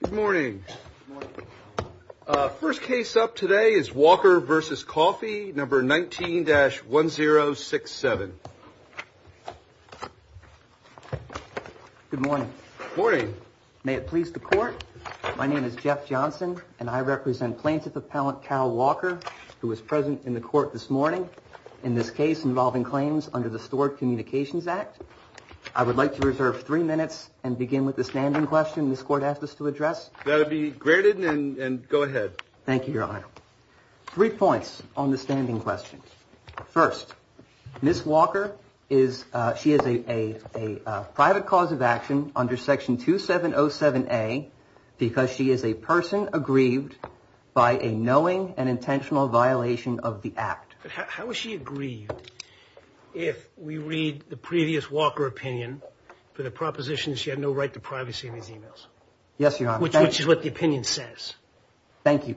Good morning. First case up today is Walker versus Coffey number 19-1067. Good morning. Morning. May it please the court. My name is Jeff Johnson and I represent plaintiff appellant Cal Walker who was present in the court this morning in this case involving claims under the Stored Communications Act. I would like to reserve three minutes and begin with the standing question this court asked us to address. That would be granted and go ahead. Thank you, your honor. Three points on the standing questions. First, Ms. Walker is, she is a private cause of action under section 2707A because she is a person aggrieved by a knowing and intentional violation of the act. How is she aggrieved if we read the previous Walker opinion for the proposition she had no right to privacy of his emails? Yes, your honor. Which is what the opinion says. Thank you.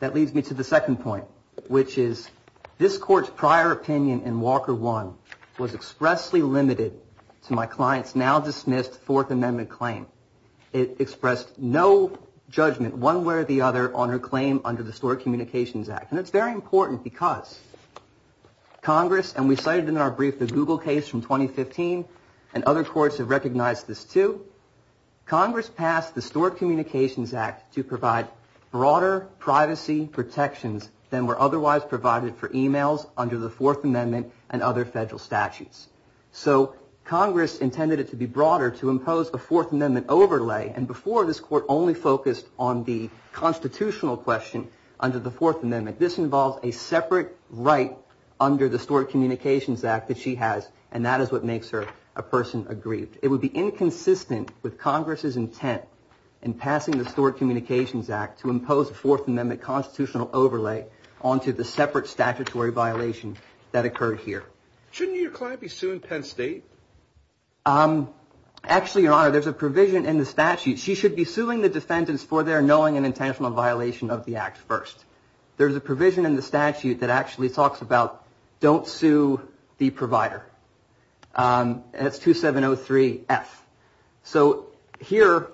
That leads me to the second point which is this court's prior opinion in Walker 1 was expressly limited to my client's now dismissed fourth amendment claim. It expressed no judgment one way or the other on her claim under the Stored Communications Act and it's very important because Congress and we cited in our brief the Google case from 2015 and other courts have recognized this too. Congress passed the Stored Communications Act to provide broader privacy protections than were otherwise provided for emails under the fourth amendment and other federal statutes. So Congress intended it to be broader to impose a fourth amendment overlay and before this court only focused on the constitutional question under the fourth amendment. This involves a separate right under the Stored Communications Act that she has and that is what makes her a person aggrieved. It would be inconsistent with Congress's intent in passing the Stored Communications Act to impose a fourth amendment constitutional overlay onto the separate statutory violation that occurred here. Shouldn't your client be sued in Penn State? Actually, your honor, there's a provision in the statute. She should be suing the defendants for their intentional violation of the act first. There's a provision in the statute that actually talks about don't sue the provider. That's 2703 F. So here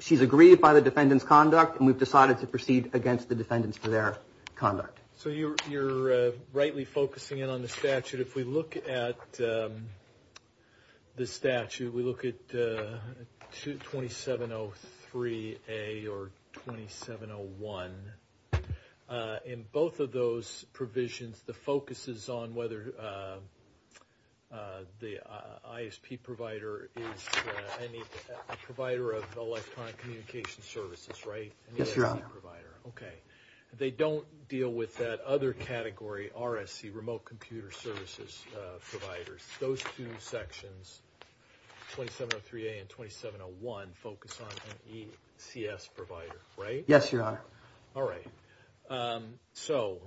she's aggrieved by the defendants conduct and we've decided to proceed against the defendants for their conduct. So you're rightly focusing in statute. If we look at the statute, we look at 2703 A or 2701. In both of those provisions, the focus is on whether the ISP provider is a provider of electronic communication services, right? Yes, your honor. Okay. They don't deal with that other category, RSC, remote computer services providers. Those two sections, 2703 A and 2701 focus on an ECS provider, right? Yes, your honor. All right. So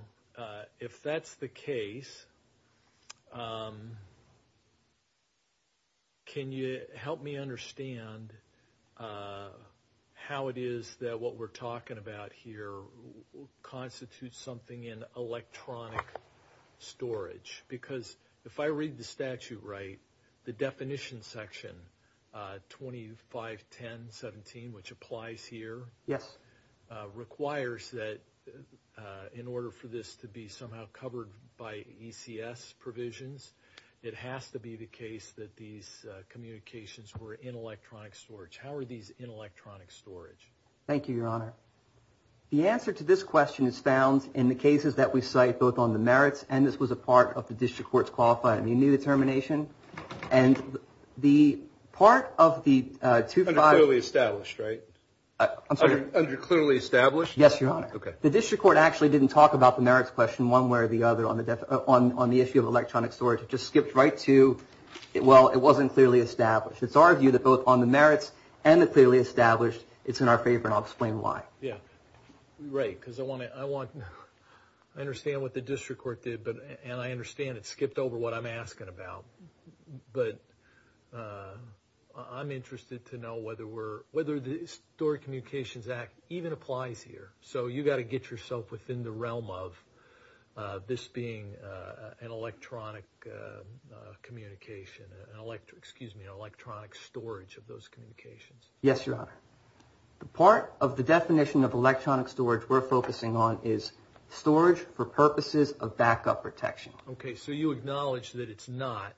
if that's the case, can you help me understand how it is that what we're talking about here constitutes something in electronic storage? Because if I read the statute right, the definition section 251017, which applies here, requires that in order for this to be somehow covered by ECS provisions, it has to be the case that these communications were in electronic storage. Thank you, your honor. The answer to this question is found in the cases that we cite both on the merits and this was a part of the district court's qualifying. You knew the termination and the part of the 25... Under clearly established, right? I'm sorry. Under clearly established? Yes, your honor. Okay. The district court actually didn't talk about the merits question one way or the other on the issue of electronic storage. It just skipped right to, well, it wasn't clearly established. It's our view that both on the merits and the clearly established, it's in our favor and I'll explain why. Yeah, right. Because I understand what the district court did and I understand it skipped over what I'm asking about. But I'm interested to know whether the Storage Communications Act even applies here. So you got to get yourself within the realm of this being an electronic communication, excuse me, an electronic storage of those communications. Yes, your honor. The part of the definition of electronic storage we're focusing on is storage for purposes of backup protection. Okay. So you acknowledge that it's not,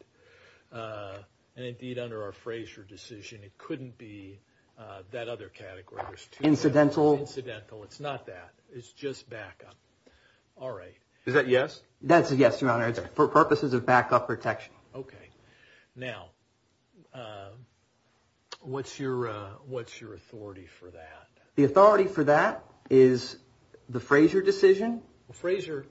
and indeed under our Frazier decision, it couldn't be that other category. Incidental. Incidental. It's not that. It's just backup. All right. Is that yes? That's a yes, your honor. It's for purposes of backup protection. Okay. Now what's your authority for that? The authority for that is the Frazier decision. Frazier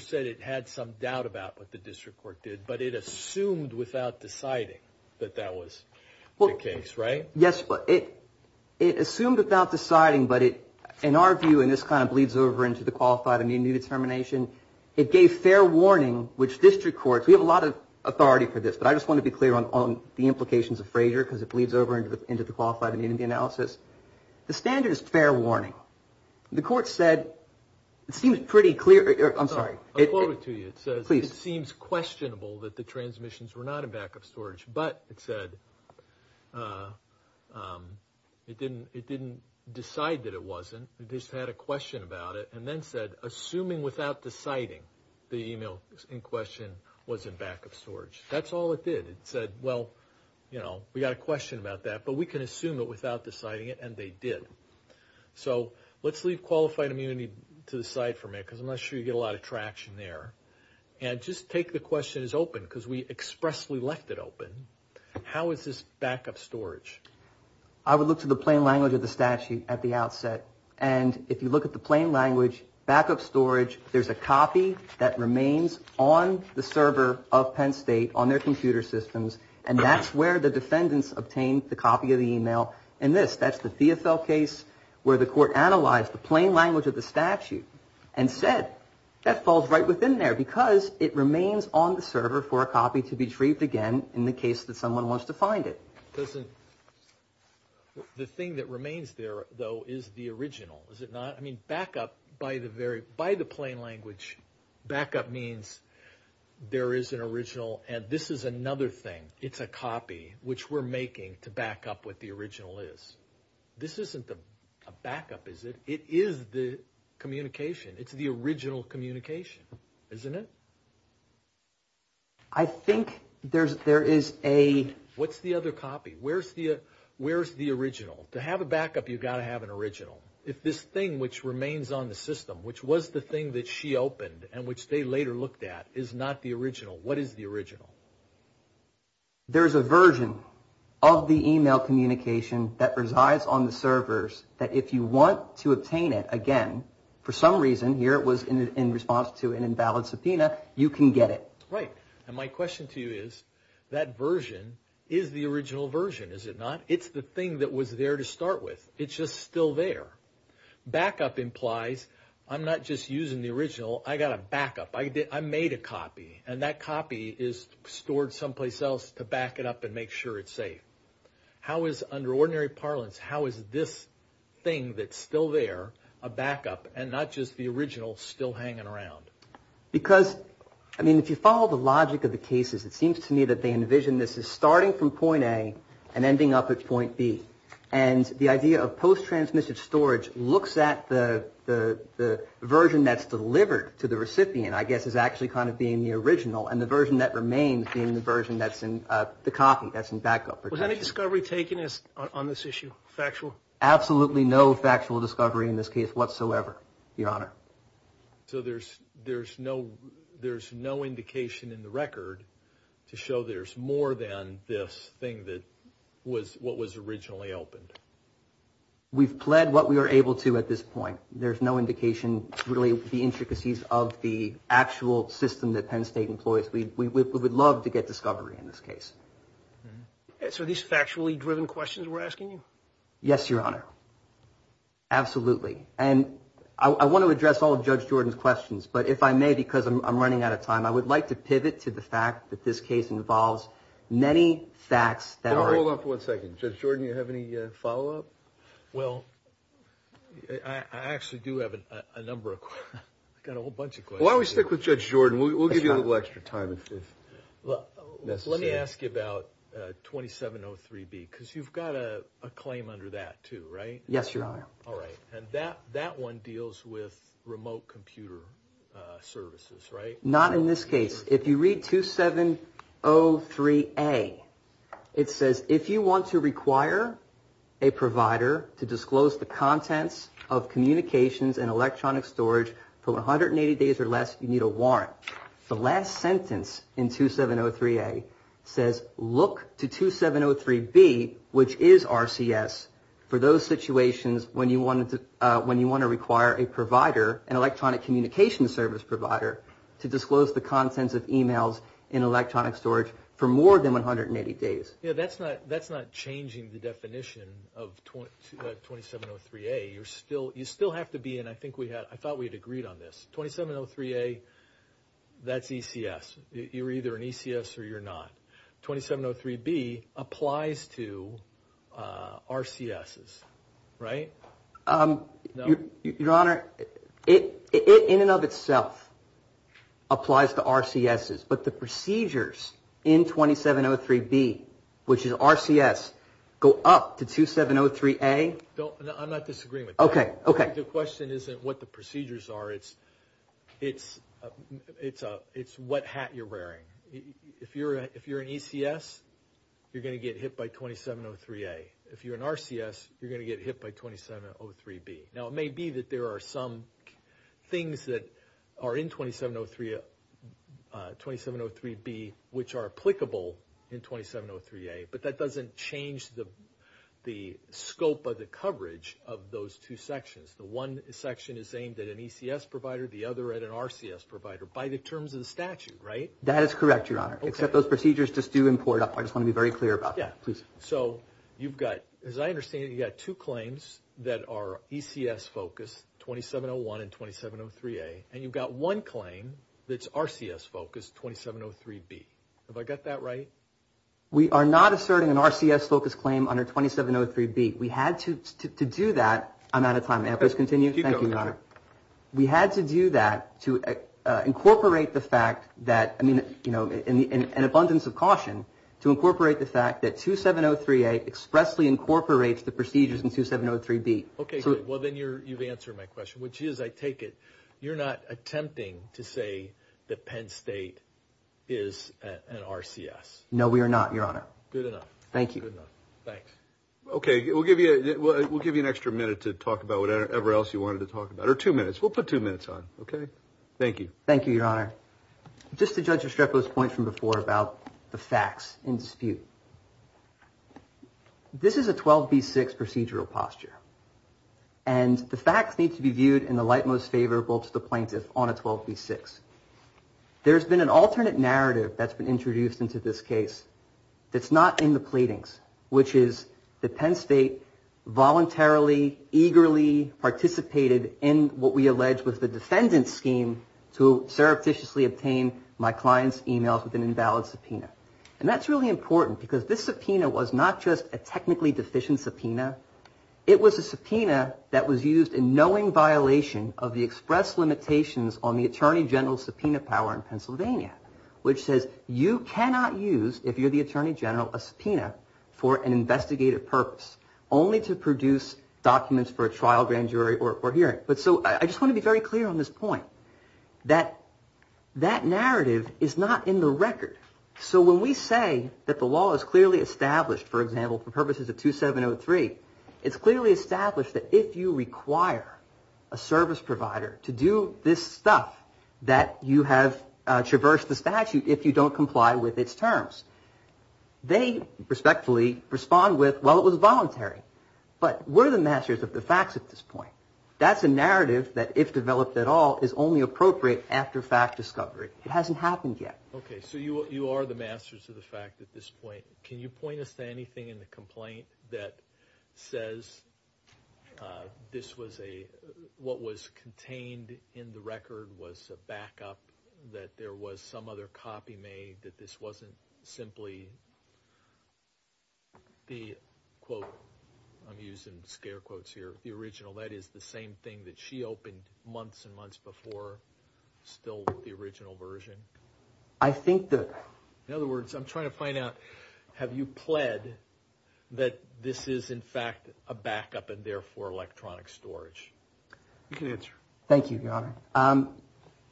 said it had some doubt about what the district court did, but it assumed without deciding that that was the case, right? Yes. It assumed without deciding, but in our view, and this kind of bleeds over into the Qualified Immunity Determination, it gave fair warning, which district courts, we have a lot of authority for this, but I just want to be clear on the implications of Frazier because it bleeds over into the Qualified Immunity Analysis. The standard is fair warning. The court said, it seems pretty clear, I'm sorry. I'll quote it to you. It says it seems questionable that the transmissions were not in backup storage, but it said it didn't decide that it wasn't. It just had a question about it, and then said assuming without deciding the email in question was in backup storage. That's all it did. It said, well, you know, we got a question about that, but we can assume it without deciding it, and they did. So let's leave Qualified Immunity to the side for a minute because I'm not sure you get a lot of traction there, and just take the question is open because we expressly left it open. How is this backup storage? I would look to the plain language of the statute at the outset, and if you look at the plain language backup storage, there's a copy that remains on the server of Penn State on their computer systems, and that's where the defendants obtained the copy of the email, and this, that's the Theofel case where the court analyzed the plain language of the statute and said that falls right within there because it remains on the server for a copy to be retrieved again in the case that someone wants to find it. Listen, the thing that remains there, though, is the original, is it not? I mean, backup by the very, by the plain language, backup means there is an original, and this is another thing. It's a copy, which we're making to back up what the original is. This isn't a backup, is it? It is the communication. It's the original communication, isn't it? I think there's, there is a... What's the other copy? Where's the, where's the original? To have a backup, you've got to have an original. If this thing which remains on the system, which was the thing that she opened and which they later looked at is not the original, what is the original? There's a version of the email communication that resides on the servers that if you want to obtain it again, for some reason, here it was in response to an invalid subpoena, you can get it. Right. And my question to you is, that version is the original version, is it not? It's the thing that was there to start with. It's just still there. Backup implies I'm not just using the original, I got a backup. I made a copy, and that copy is stored someplace else to back it up and make sure it's safe. How is, under ordinary parlance, how is this thing that's still there a backup, and not just the original still hanging around? Because, I mean, if you follow the logic of the cases, it seems to me that they envision this as starting from point A and ending up at point B. And the idea of post-transmission storage looks at the version that's delivered to the recipient, I guess, as actually kind of being the original, and the version that remains being the version that's in, the copy that's in backup. Was any discovery taken on this issue? Factual? Absolutely no factual discovery in this case whatsoever, your honor. So there's no indication in the record to show there's more than this thing that was what was originally opened? We've pled what we are able to at this point. There's no indication, really, the intricacies of the actual system that Penn State employs. We would love to get discovery in this case. So are these factually driven questions we're asking you? Yes, your honor. Absolutely. And I want to address all of Judge Jordan's questions, but if I may, because I'm running out of time, I would like to pivot to the fact that this case involves many facts that are... Hold on for one second. Judge Jordan, do you have any follow-up? Well, I actually do have a number of questions. I've got a whole bunch of questions. Why don't let me ask you about 2703B, because you've got a claim under that too, right? Yes, your honor. All right. And that one deals with remote computer services, right? Not in this case. If you read 2703A, it says, if you want to require a provider to disclose the contents of communications and electronic storage for 180 days or less, you need a warrant. The last sentence in 2703A says, look to 2703B, which is RCS, for those situations when you want to require a provider, an electronic communication service provider, to disclose the contents of emails in electronic storage for more than 180 days. Yeah, that's not changing the definition of 2703A. You still have to be in... I thought we had agreed on this. 2703A, that's ECS. You're either an ECS or you're not. 2703B applies to RCSs, right? Your honor, it in and of itself applies to RCSs, but the procedures in 2703B, which is RCS, go up to 2703A? I'm not disagreeing with that. Okay. Okay. The question isn't what the procedures are. It's what hat you're wearing. If you're an ECS, you're going to get hit by 2703A. If you're an RCS, you're going to get hit by 2703B. Now, it may be that there are some things that are in 2703B which are applicable in 2703A, but that doesn't change the scope of the coverage of those two sections. The one section is aimed at an ECS provider, the other at an RCS provider, by the terms of the statute, right? That is correct, your honor, except those procedures just do import up. I just want to be clear about that. As I understand it, you've got two claims that are ECS-focused, 2701 and 2703A, and you've got one claim that's RCS-focused, 2703B. Have I got that right? We are not asserting an RCS-focused claim under 2703B. We had to do that. I'm out of time. May I please continue? Thank you, your honor. We had to do that to incorporate the fact that, I mean, an abundance of caution to incorporate the fact that 2703A expressly incorporates the procedures in 2703B. Okay, good. Well, then you've answered my question, which is, I take it, you're not attempting to say that Penn State is an RCS? No, we are not, your honor. Good enough. Thank you. Good enough. Thanks. Okay, we'll give you an extra minute to talk about whatever else you wanted to talk about, or two minutes. We'll put two minutes on, okay? Thank you. Thank you, your honor. Just to judge Estrepo's point from before about the facts in dispute, this is a 12B6 procedural posture, and the facts need to be viewed in the light most favorable to the plaintiff on a 12B6. There's been an alternate narrative that's been introduced into this case that's not in the pleadings, which is that Penn State voluntarily, eagerly obtained my client's emails with an invalid subpoena. And that's really important, because this subpoena was not just a technically deficient subpoena, it was a subpoena that was used in knowing violation of the express limitations on the Attorney General's subpoena power in Pennsylvania, which says you cannot use, if you're the Attorney General, a subpoena for an investigative purpose, only to produce documents for a trial, grand jury, or hearing. So I just want to be very clear on this point, that that narrative is not in the record. So when we say that the law is clearly established, for example, for purposes of 2703, it's clearly established that if you require a service provider to do this stuff that you have traversed the statute if you don't comply with its terms, they respectfully respond with, it was voluntary. But we're the masters of the facts at this point. That's a narrative that, if developed at all, is only appropriate after fact discovery. It hasn't happened yet. Okay, so you are the masters of the fact at this point. Can you point us to anything in the complaint that says this was a, what was contained in the record was a backup, that there was some other copy made, that this wasn't simply the, quote, I'm using scare quotes here, the original, that is the same thing that she opened months and months before, still the original version? I think that... In other words, I'm trying to find out, have you pled that this is, in fact, a backup and therefore electronic storage? You can answer. Thank you, Your Honor.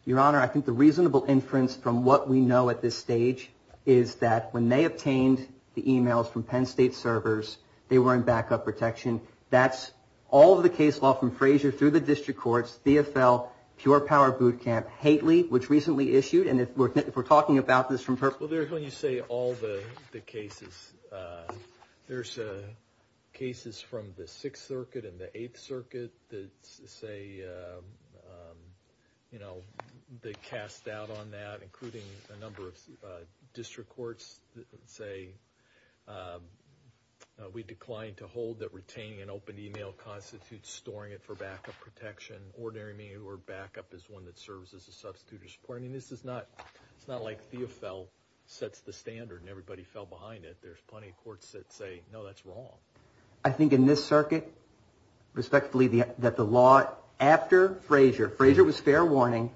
Your Honor, I think the reasonable inference from what we know at this stage is that when they obtained the emails from Penn State servers, they were in backup protection. That's all of the case law from Frazier through the district courts, BFL, Pure Power Boot Camp, Haitley, which recently issued, and if we're talking about this from purpose... Well, when you say all the cases, there's cases from the Sixth Circuit and the Eighth Circuit that say, you know, they cast doubt on that, including a number of district courts that say, we decline to hold that retaining an open email constitutes storing it for backup protection. Ordinary mail or backup is one that serves as a substitute or support. I mean, this is not, it's not like DFL sets the standard and everybody fell behind it. There's plenty of courts that say, no, that's wrong. I think in this circuit, respectfully, that the law after Frazier, Frazier was fair warning,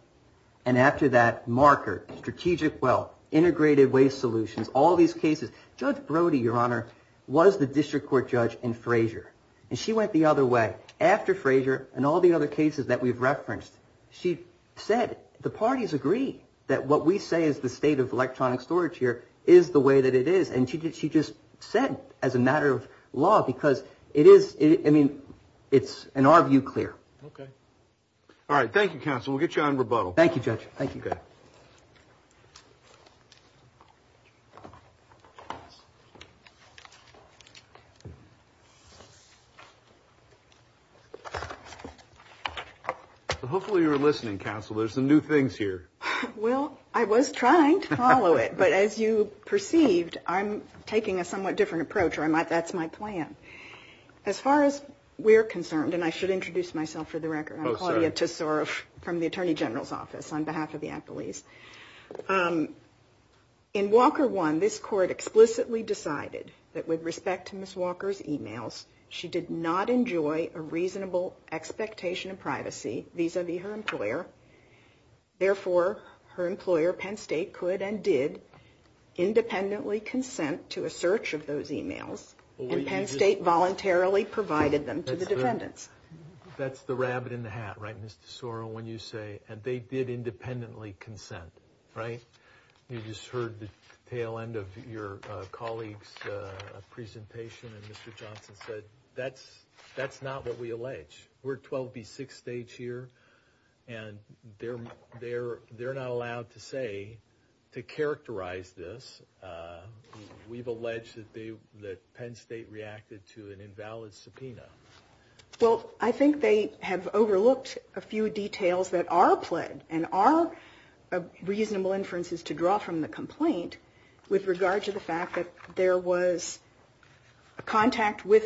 and after that marker, strategic well, integrated waste solutions, all these cases, Judge Brody, Your Honor, was the district court judge in Frazier. And she went the other way. After Frazier and all the other cases that we've referenced, she said, the parties agree that what we say is the state of electronic storage here is the way that it is. And she did, she just said as a matter of law, because it is, I mean, it's in our view, clear. Okay. All right. Thank you, counsel. We'll get you on rebuttal. Thank you, Judge. Thank you. Hopefully you're listening, counsel. There's some new things here. Well, I was trying to follow it, but as you perceived, I'm taking a somewhat different approach or I might, that's my plan. As far as we're concerned, and I should introduce myself for the record. I'm Claudia Tesoro from the attorney general's office on behalf of the appellees. In Walker one, this court explicitly decided that with respect to Ms. Walker's emails, she did not enjoy a reasonable expectation of privacy vis-a-vis her employer. Therefore, her employer, Penn State, could and did independently consent to a search of those emails, and Penn State voluntarily provided them to the defendants. That's the rabbit in the hat, right, Ms. Tesoro, when you say, and they did independently consent, right? You just heard the tail end of your colleague's presentation, and Mr. Johnson said, that's not what we allege. We're 12B6 stage here, and they're not allowed to say, to characterize this, we've alleged that Penn State reacted to an invalid subpoena. Well, I think they have overlooked a few details that are pled, and are reasonable inferences to draw from the complaint, with regard to the fact that there was a contact with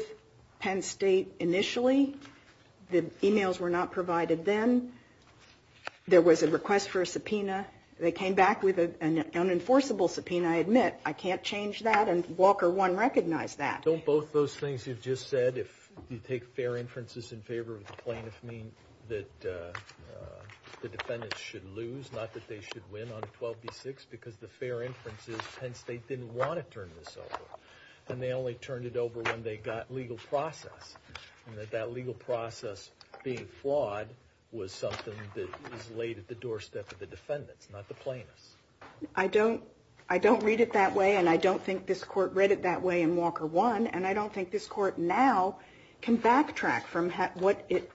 Penn State initially, the emails were not provided then, there was a request for a subpoena, they came back with an unenforceable subpoena, I admit. I can't change that, and Walker one recognized that. Don't both those things you've just said, if you take fair inferences in favor of the plaintiff, mean that the defendants should lose, not that they should win on 12B6, because the fair inference is Penn State didn't want to turn this over, and they only turned it over when they got legal process, and that that legal process being flawed was something that was laid at the doorstep of the defendants, not the plaintiffs. I don't, I don't read it that way, and I don't think this court read it that way in Walker one, and I don't think this court now can backtrack from what it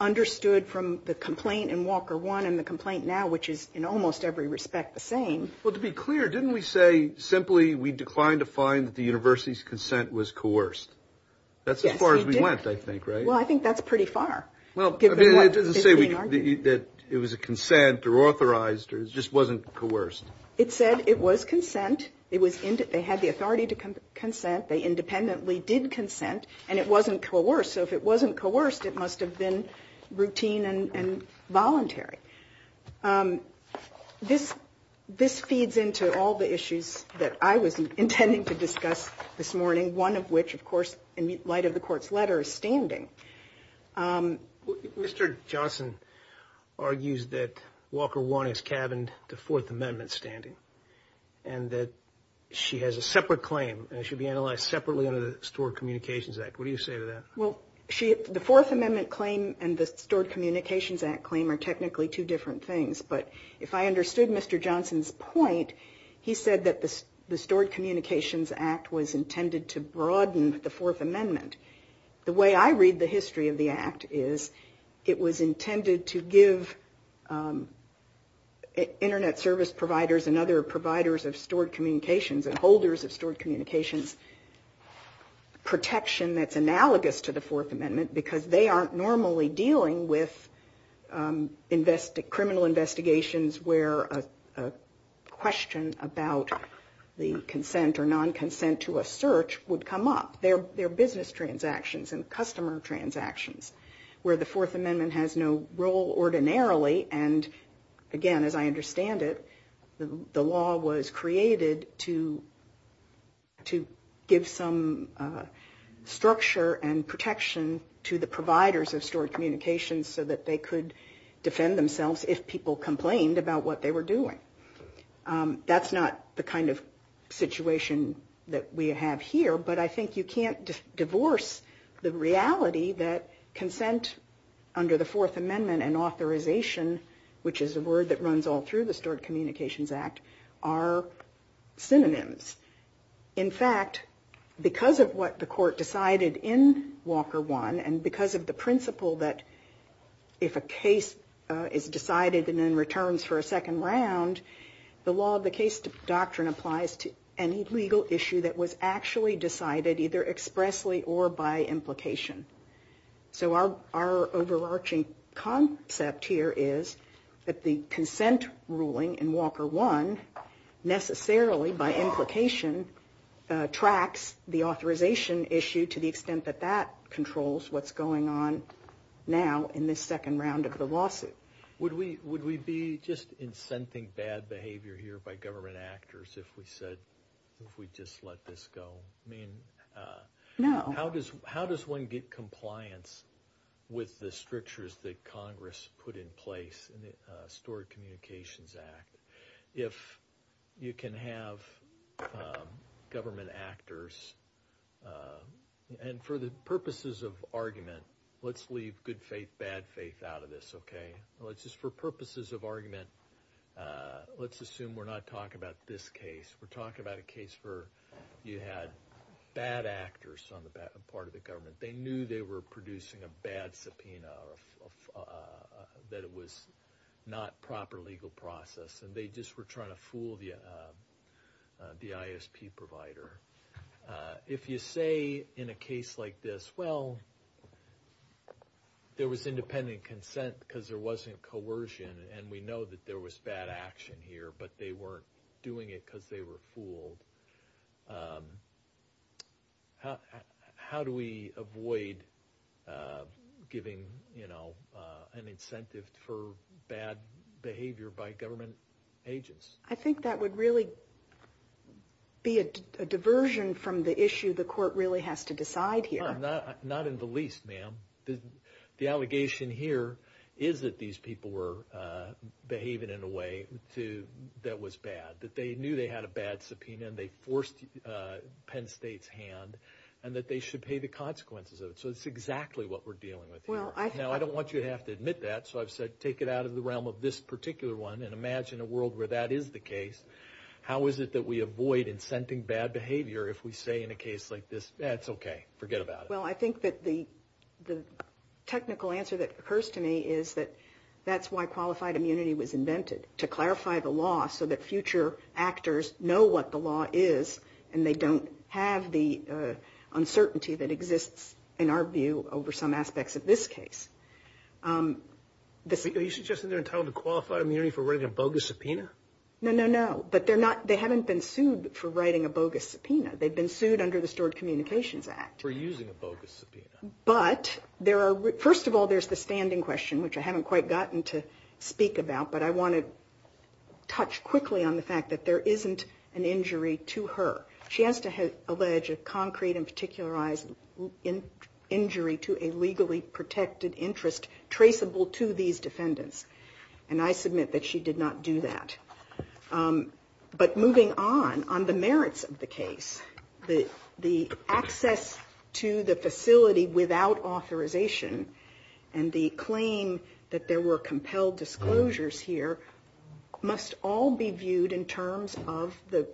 understood from the complaint in Walker one, and the complaint now, which is in almost every respect the same. Well, to be clear, didn't we say simply we declined to find that the university's consent was coerced? That's as far as we went, I think, right? Well, I think that's pretty far. Well, I mean, it doesn't say that it was a consent, or authorized, it just wasn't coerced. It said it was consent, it was, they had the authority to consent, they independently did consent, and it wasn't coerced, so if it wasn't coerced, it must have been routine and voluntary. This, this feeds into all the issues that I was intending to discuss this morning, one of which, of course, in light of the court's letter, is standing. Um, Mr. Johnson argues that Walker one is cabined to Fourth Amendment standing, and that she has a separate claim, and it should be analyzed separately under the Stored Communications Act. What do you say to that? Well, she, the Fourth Amendment claim and the Stored Communications Act claim are technically two different things, but if I understood Mr. Johnson's point, he said that the Stored Communications Act was intended to broaden the Fourth Amendment. The way I read the history of the act is, it was intended to give internet service providers and other providers of stored communications and holders of stored communications protection that's analogous to the Fourth Amendment, because they aren't normally dealing with invest, criminal investigations where a question about the consent or non-consent to a their business transactions and customer transactions, where the Fourth Amendment has no role ordinarily. And again, as I understand it, the law was created to, to give some structure and protection to the providers of stored communications so that they could defend themselves if people complained about what they were doing. That's not the kind of situation that we have here, but I think you can't divorce the reality that consent under the Fourth Amendment and authorization, which is a word that runs all through the Stored Communications Act, are synonyms. In fact, because of what the court decided in Walker 1, and because of the principle that if a case is decided and then returns for a second round, the law of the case doctrine applies to any legal issue that was actually decided either expressly or by implication. So our, our overarching concept here is that the consent ruling in Walker 1 necessarily, by implication, tracks the authorization issue to the extent that that controls what's going on now in this second round of the lawsuit. Would we, would we be just incenting bad behavior here by government actors if we said, if we just let this go? I mean, how does, how does one get compliance with the strictures that Congress put in place in the Stored Communications Act? If you can have government actors, and for the purposes of argument, let's leave good faith, bad faith out of this, okay? Let's just, for purposes of argument, let's assume we're not talking about this case. We're talking about a case where you had bad actors on the part of the government. They knew they were producing a bad subpoena, that it was not proper legal process, and they just were trying to fool the ISP provider. If you say in a case like this, well, there was independent consent because there wasn't coercion, and we know that there was bad action here, but they weren't doing it because they were fooled. How do we avoid giving, you know, an incentive for bad behavior by government agents? I think that would really be a diversion from the least, ma'am. The allegation here is that these people were behaving in a way that was bad, that they knew they had a bad subpoena, and they forced Penn State's hand, and that they should pay the consequences of it. So that's exactly what we're dealing with here. Now, I don't want you to have to admit that, so I've said take it out of the realm of this particular one and imagine a world where that is the case. How is it that we avoid incenting bad behavior if we say in a case like this, that's okay, forget about it? Well, I think that the technical answer that occurs to me is that that's why qualified immunity was invented, to clarify the law so that future actors know what the law is and they don't have the uncertainty that exists in our view over some aspects of this case. Are you suggesting they're entitled to qualified immunity for writing a bogus subpoena? No, no, no, but they haven't been sued for writing a bogus subpoena. They've been sued under the Stored Communications Act. For using a bogus subpoena. But there are, first of all, there's the standing question, which I haven't quite gotten to speak about, but I want to touch quickly on the fact that there isn't an injury to her. She has to allege a concrete and particularized injury to a legally protected interest traceable to these defendants, and I submit that she did not do that. But moving on, on the merits of the case, the access to the facility without authorization and the claim that there were compelled disclosures here must all be viewed in terms of the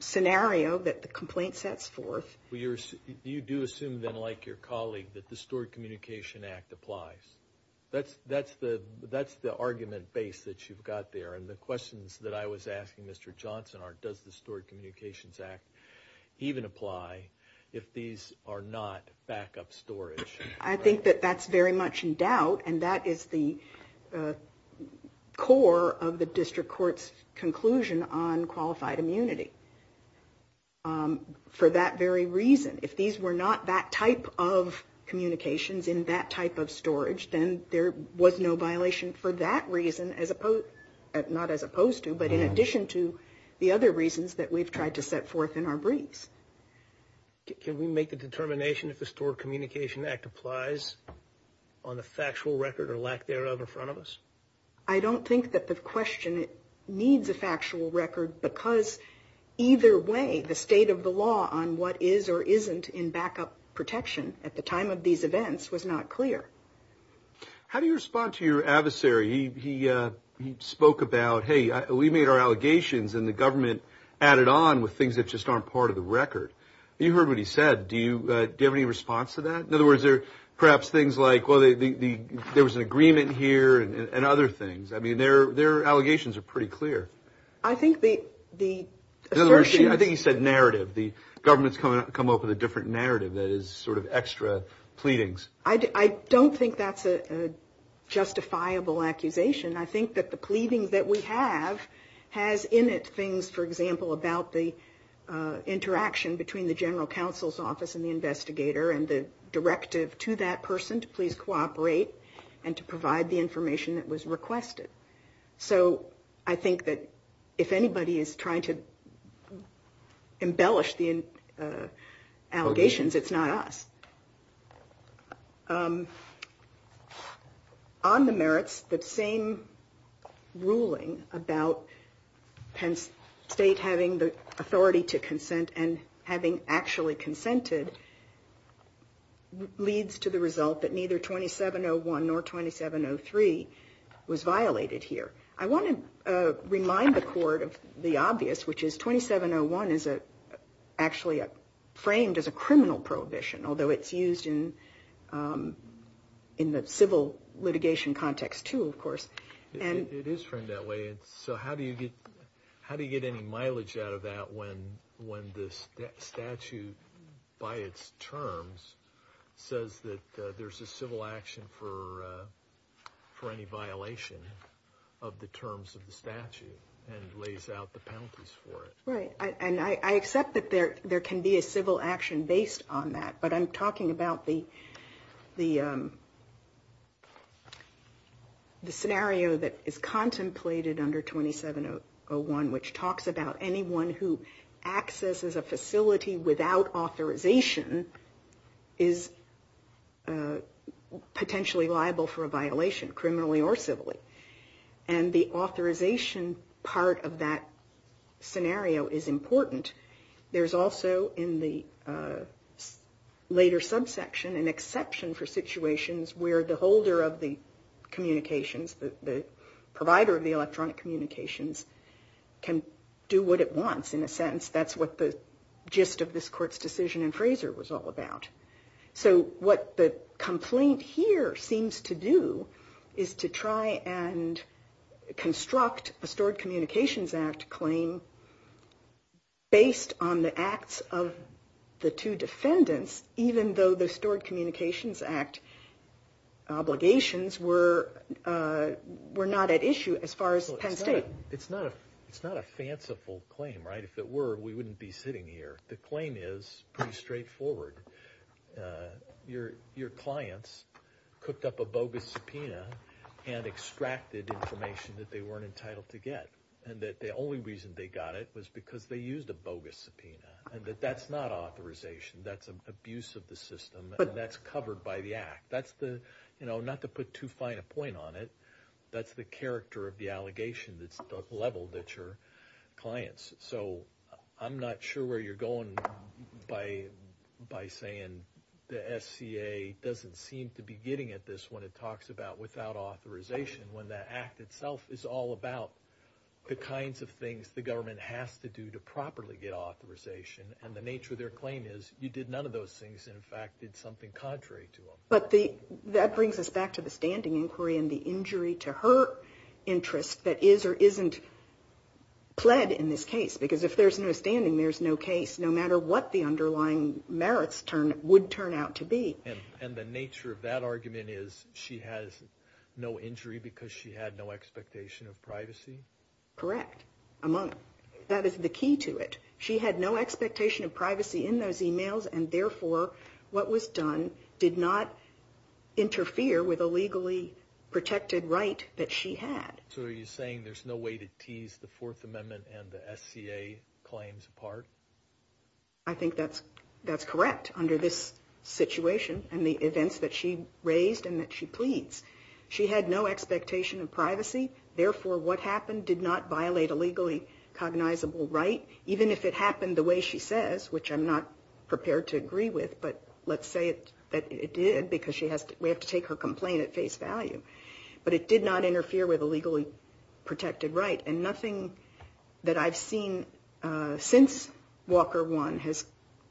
scenario that the complaint sets forth. Well, you do assume then, like your colleague, that the Stored Communication Act applies. That's the argument base that you've got there, and the questions that I was asking Mr. Johnson are, does the Stored Communications Act even apply if these are not backup storage? I think that that's very much in doubt, and that is the core of the District Court's conclusion on qualified immunity. For that very reason, if these were not that type of communications in that type of storage, then there was no violation for that reason as opposed, not as opposed to, but in addition to the other reasons that we've tried to set forth in our briefs. Can we make the determination if the Stored Communication Act applies on the factual record or lack thereof in front of us? I don't think that the question needs a factual record because either way, the state of the law on what is or isn't in backup protection at the time of these events was not clear. How do you respond to your adversary? He spoke about, hey, we made our allegations and the government added on with things that just aren't part of the record. You heard what he said. Do you have any response to that? In other words, perhaps things like, well, there was an agreement here and other things. I mean, their allegations are pretty clear. I think the assertion... I think he said narrative. The government's come up with a different narrative that is sort of extra pleadings. I don't think that's a justifiable accusation. I think that the pleading that we have has in it things, for example, about the interaction between the general counsel's investigator and the directive to that person to please cooperate and to provide the information that was requested. So I think that if anybody is trying to embellish the allegations, it's not us. On the merits, the same ruling about Penn State having the authority to consent and having actually consented leads to the result that neither 2701 nor 2703 was violated here. I want to remind the court of the obvious, which is 2701 is actually framed as a criminal prohibition, although it's used in the civil litigation context too, of course. It is framed that way. So how do you get any mileage out of that when the statute, by its terms, says that there's a civil action for any violation of the terms of the statute and lays out the penalties for it? Right. And I accept that there can be a civil action based on that, but I'm talking about the scenario that is contemplated under 2701, which talks about anyone who accesses a facility without authorization is potentially liable for a violation, criminally or civilly. And the authorization part of that scenario is important. There's also in the later subsection an exception for the provider of the electronic communications can do what it wants. In a sense, that's what the gist of this court's decision in Fraser was all about. So what the complaint here seems to do is to try and construct a stored communications act claim based on the acts of the two defendants, even though the stored communications act obligations were not at issue as far as Penn State. It's not a fanciful claim, right? If it were, we wouldn't be sitting here. The claim is pretty straightforward. Your clients cooked up a bogus subpoena and extracted information that they weren't entitled to get. And that the only reason they got it was because they used a bogus subpoena and that that's not authorization. That's an abuse of the system and that's covered by the act. That's the, you know, not to put too fine a point on it, that's the character of the allegation that's the level that your clients. So I'm not sure where you're going by saying the SCA doesn't seem to be getting at this when it talks about without authorization, when that act itself is all about the kinds of things the government has to do to properly get authorization. And the nature of their claim is you did none of those things, and in fact did something contrary to them. But that brings us back to the standing inquiry and the injury to her interest that is or isn't pled in this case. Because if there's no standing, there's no case, no matter what the underlying merits would turn out to be. And the nature of that argument is she has no injury because she had no expectation of privacy? Correct. That is the key to it. She had no expectation of privacy in those emails, and therefore what was done did not interfere with a legally protected right that she had. So are you saying there's no way to tease the Fourth Amendment and the SCA claims apart? I think that's correct under this situation and the events that she raised and that she pleads. She had no expectation of privacy, therefore what happened did not violate a legally cognizable right, even if it happened the way she says, which I'm not prepared to agree with, but let's say that it did because we have to take her complaint at face value. But it did not interfere with a legally protected right, and nothing that I've seen since Walker 1 has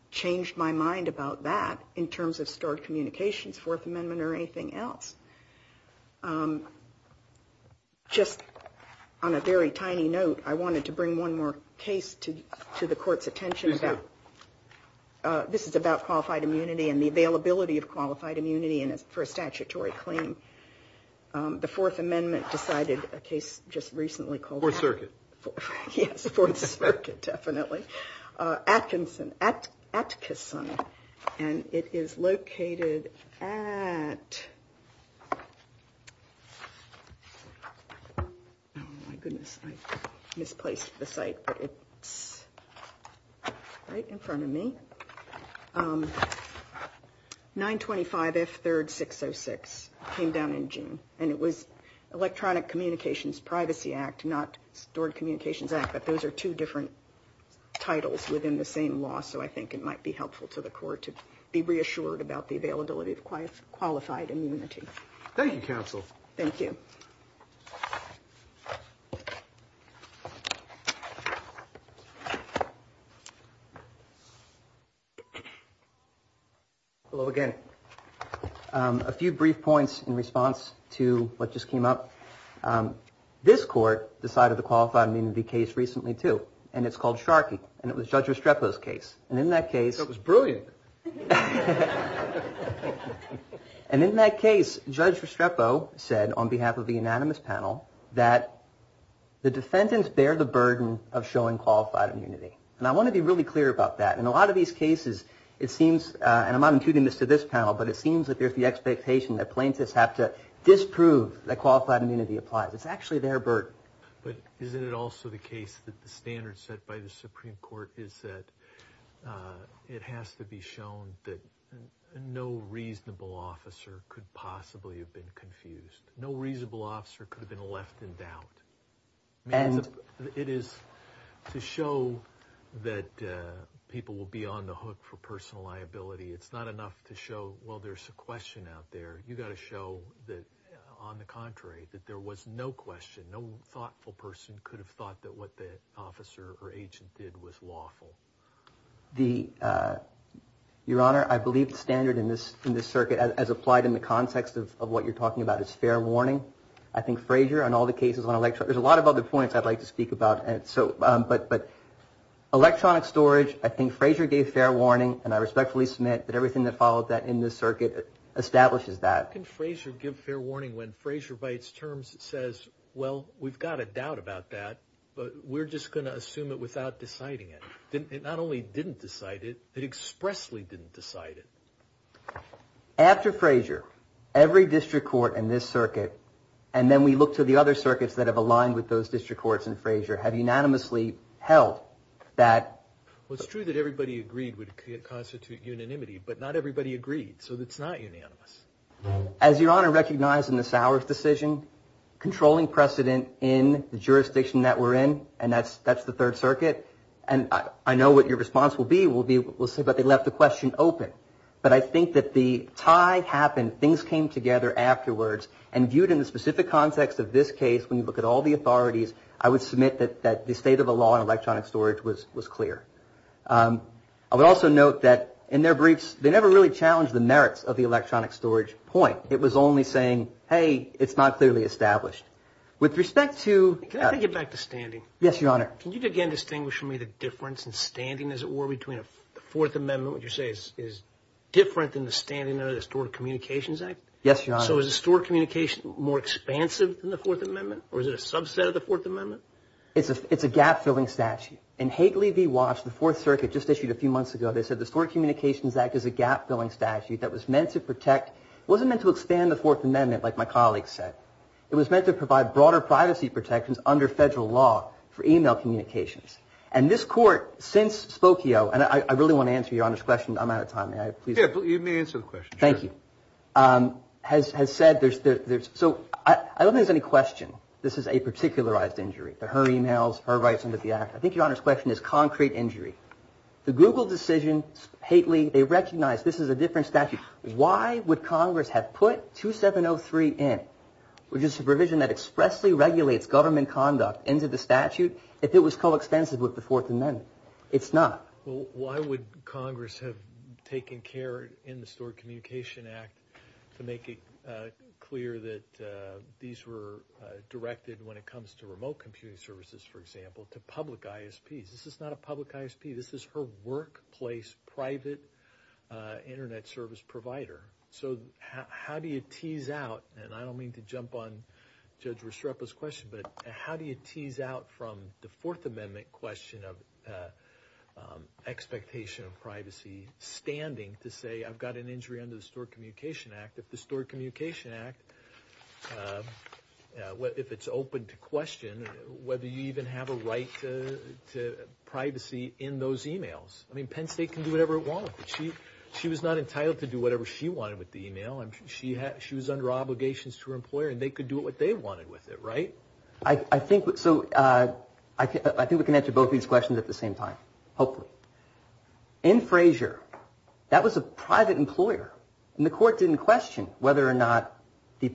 changed my mind about that in terms of stored communications, Fourth Amendment, or anything else. Just on a very tiny note, I wanted to bring one more case to the Court's attention. This is about qualified immunity and the availability of qualified immunity for a statutory claim. The Fourth Amendment decided a case just recently called... Fourth Circuit. Yes, Fourth Circuit, definitely. Atkinson, Atkison, and it is located at 925 F3rd 606. Oh my goodness, I misplaced the site, but it's right in front of me. 925 F3rd 606 came down in June, and it was Electronic Communications Privacy Act, not Stored Communications Act, but those are two different titles within the same law, so I think it might be helpful to the Court to be reassured about the availability of qualified immunity. Thank you, Counsel. Thank you. Well, again, a few brief points in response to what just came up. This Court decided the qualified immunity case recently, too, and it's called Sharkey, and it was Judge Restrepo's case, and in that case... That was brilliant. And in that case, Judge Restrepo said, on behalf of the unanimous panel, that the defendants bear the burden of showing qualified immunity, and I want to be really clear about that. In a lot of these cases, it seems, and I'm not intuiting this to this panel, but it seems that there's the expectation that plaintiffs have to disprove that qualified immunity applies. It's actually their burden. But isn't it also the case that the standard set by the Supreme Court is that it has to be shown that no reasonable officer could possibly have been confused. No reasonable officer could have been left in doubt. It is to show that people will be on the hook for personal liability, it's not enough to show, well, there's a question out there. You've got to show that, on the contrary, that there was no question, no thoughtful person could have thought that what the officer or agent did was lawful. The, Your Honor, I believe the standard in this circuit, as applied in the context of what you're talking about, is fair warning. I think Frazier, on all the cases on electronic, there's a lot of other points I'd like to speak about, and so, but electronic storage, I think Frazier gave fair warning, and I respectfully submit that everything that followed that in this circuit establishes that. How can Frazier give fair warning when Frazier, by its terms, says, well, we've got a doubt about that, but we're just going to assume it without deciding it? It not only didn't decide it, it expressly didn't decide it. After Frazier, every district court in this circuit, and then we look to the other circuits that have aligned with those district courts in Frazier, have unanimously held that... Well, it's true that everybody agreed would constitute unanimity, but not everybody agreed, so it's not unanimous. As Your Honor recognized in the Sowers decision, controlling precedent in the jurisdiction that we're in, and that's the Third Circuit, and I know what your response will be, but they left the question open. But I think that the tie happened, things came together afterwards, and viewed in the specific context of this case, when you look at all the authorities, I would submit that the state of the law in electronic storage was clear. I would also note that in their briefs, they never really challenged the merits of the electronic storage point. It was only saying, hey, it's not clearly established. With respect to... Can I get back to standing? Yes, Your Honor. Can you again distinguish for me the difference in standing, as it were, between the Fourth Amendment, what you're saying is different than the standing under the Stored Communications Act? Yes, Your Honor. So is the Stored Communications Act more expansive than the Fourth Amendment, or is it a subset of the Fourth Amendment? It's a gap-filling statute. In Hagley v. Walsh, the Fourth Circuit just issued a few months ago, they said the Stored Communications Act is a gap-filling statute that was meant to protect... It wasn't meant to expand the Fourth Amendment, like my colleagues said. It was meant to provide broader privacy protections under federal law for email communications. And this Court, since Spokio... And I really want to answer Your Honor's question. I'm out of time. May I, please? Yeah, you may answer the question. Thank you. Has said there's... So I don't think there's any question this is a particularized injury. Her emails, her rights under the Act. I think Your Honor's question is concrete injury. The Google decision, Hagley, they recognized this is a different statute. Why would Congress have put 2703 in? Which is a provision that expressly regulates government conduct into the statute if it was coextensive with the Fourth Amendment. It's not. Well, why would Congress have taken care in the Stored Communication Act to make it clear that these were directed when it comes to remote computing services, for example, to public ISPs? This is not a public ISP. This is her workplace private internet service provider. So how do you tease out, and I don't mean to jump on Judge Restrepo's question, but how do you tease out from the Fourth Amendment question of expectation of privacy standing to say, I've got an injury under the Stored Communication Act. If the Stored Communication Act... If it's open to question whether you even have a right to privacy in those emails. I mean, Penn State can do whatever it wants. She was not entitled to do whatever she wanted with the email. I'm sure she was under obligations to her employer, and they could do what they wanted with it, right? So I think we can answer both these questions at the same time, hopefully. In Frazier, that was a private employer, and the court didn't question whether or not the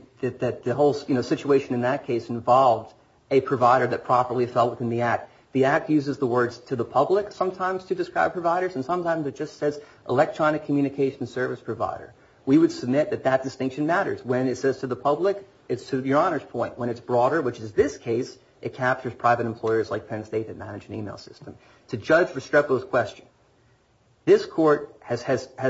whole situation in that case involved a provider that properly felt within the Act. The Act uses the words to the public sometimes to describe providers, and sometimes it just says electronic communication service provider. We would submit that that distinction matters. When it says to the public, it's to your Honor's point. When it's broader, which is this case, it captures private employers like Penn State that manage an email system. To Judge Restrepo's question, this court has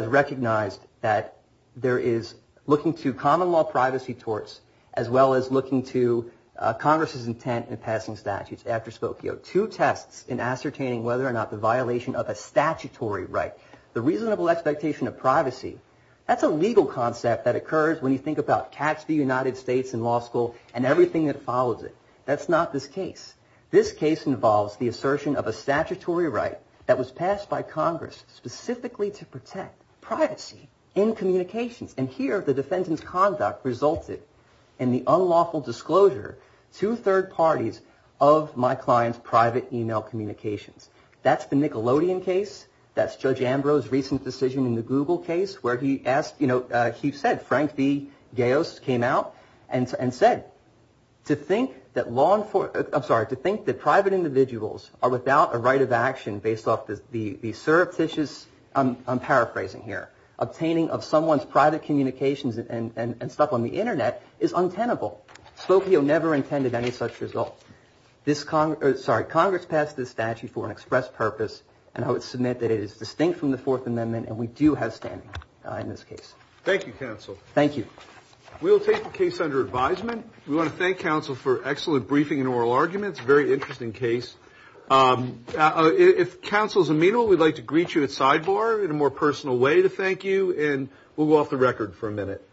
recognized that there is looking to common law privacy torts as well as looking to Congress's intent in passing statutes after Spokio. Two tests in ascertaining whether or not the violation of a statutory right, the reasonable expectation of privacy, that's a legal concept that occurs when you think about catch the United States in law school and everything that follows it. That's not this case. This case involves the assertion of a statutory right that was passed by Congress specifically to protect privacy in communications. And here, the defendant's conduct resulted in the unlawful disclosure to third parties of my client's private email communications. That's the Nickelodeon case. That's Judge Ambrose's recent decision in the Google case where he said, Frank V. Gayos came out and said, to think that private individuals are without a right of action based off the surreptitious, I'm paraphrasing here, obtaining of someone's private communications and stuff on the internet is untenable. Spokio never intended any such result. Sorry, Congress passed this statute for an express purpose and I would submit that it is distinct from the Fourth Amendment and we do have standing in this case. Thank you, counsel. Thank you. We'll take the case under advisement. We want to thank counsel for excellent briefing and oral arguments. Very interesting case. If counsel is amenable, we'd like to greet you at sidebar in a more personal way to thank you and we'll go off the record for a minute. Thank you.